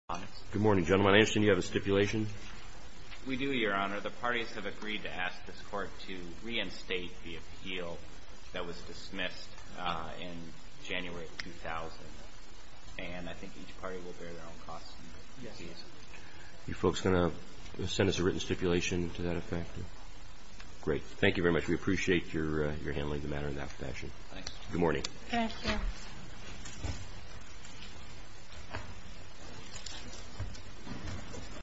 Good morning, gentlemen. I understand you have a stipulation. We do, Your Honor. The parties have agreed to ask this Court to reinstate the appeal that was dismissed in January 2000. And I think each party will bear their own costs. Are you folks going to send us a written stipulation to that effect? Great. Thank you very much. We appreciate your handling the matter in that fashion. Thanks. Good morning. Thank you.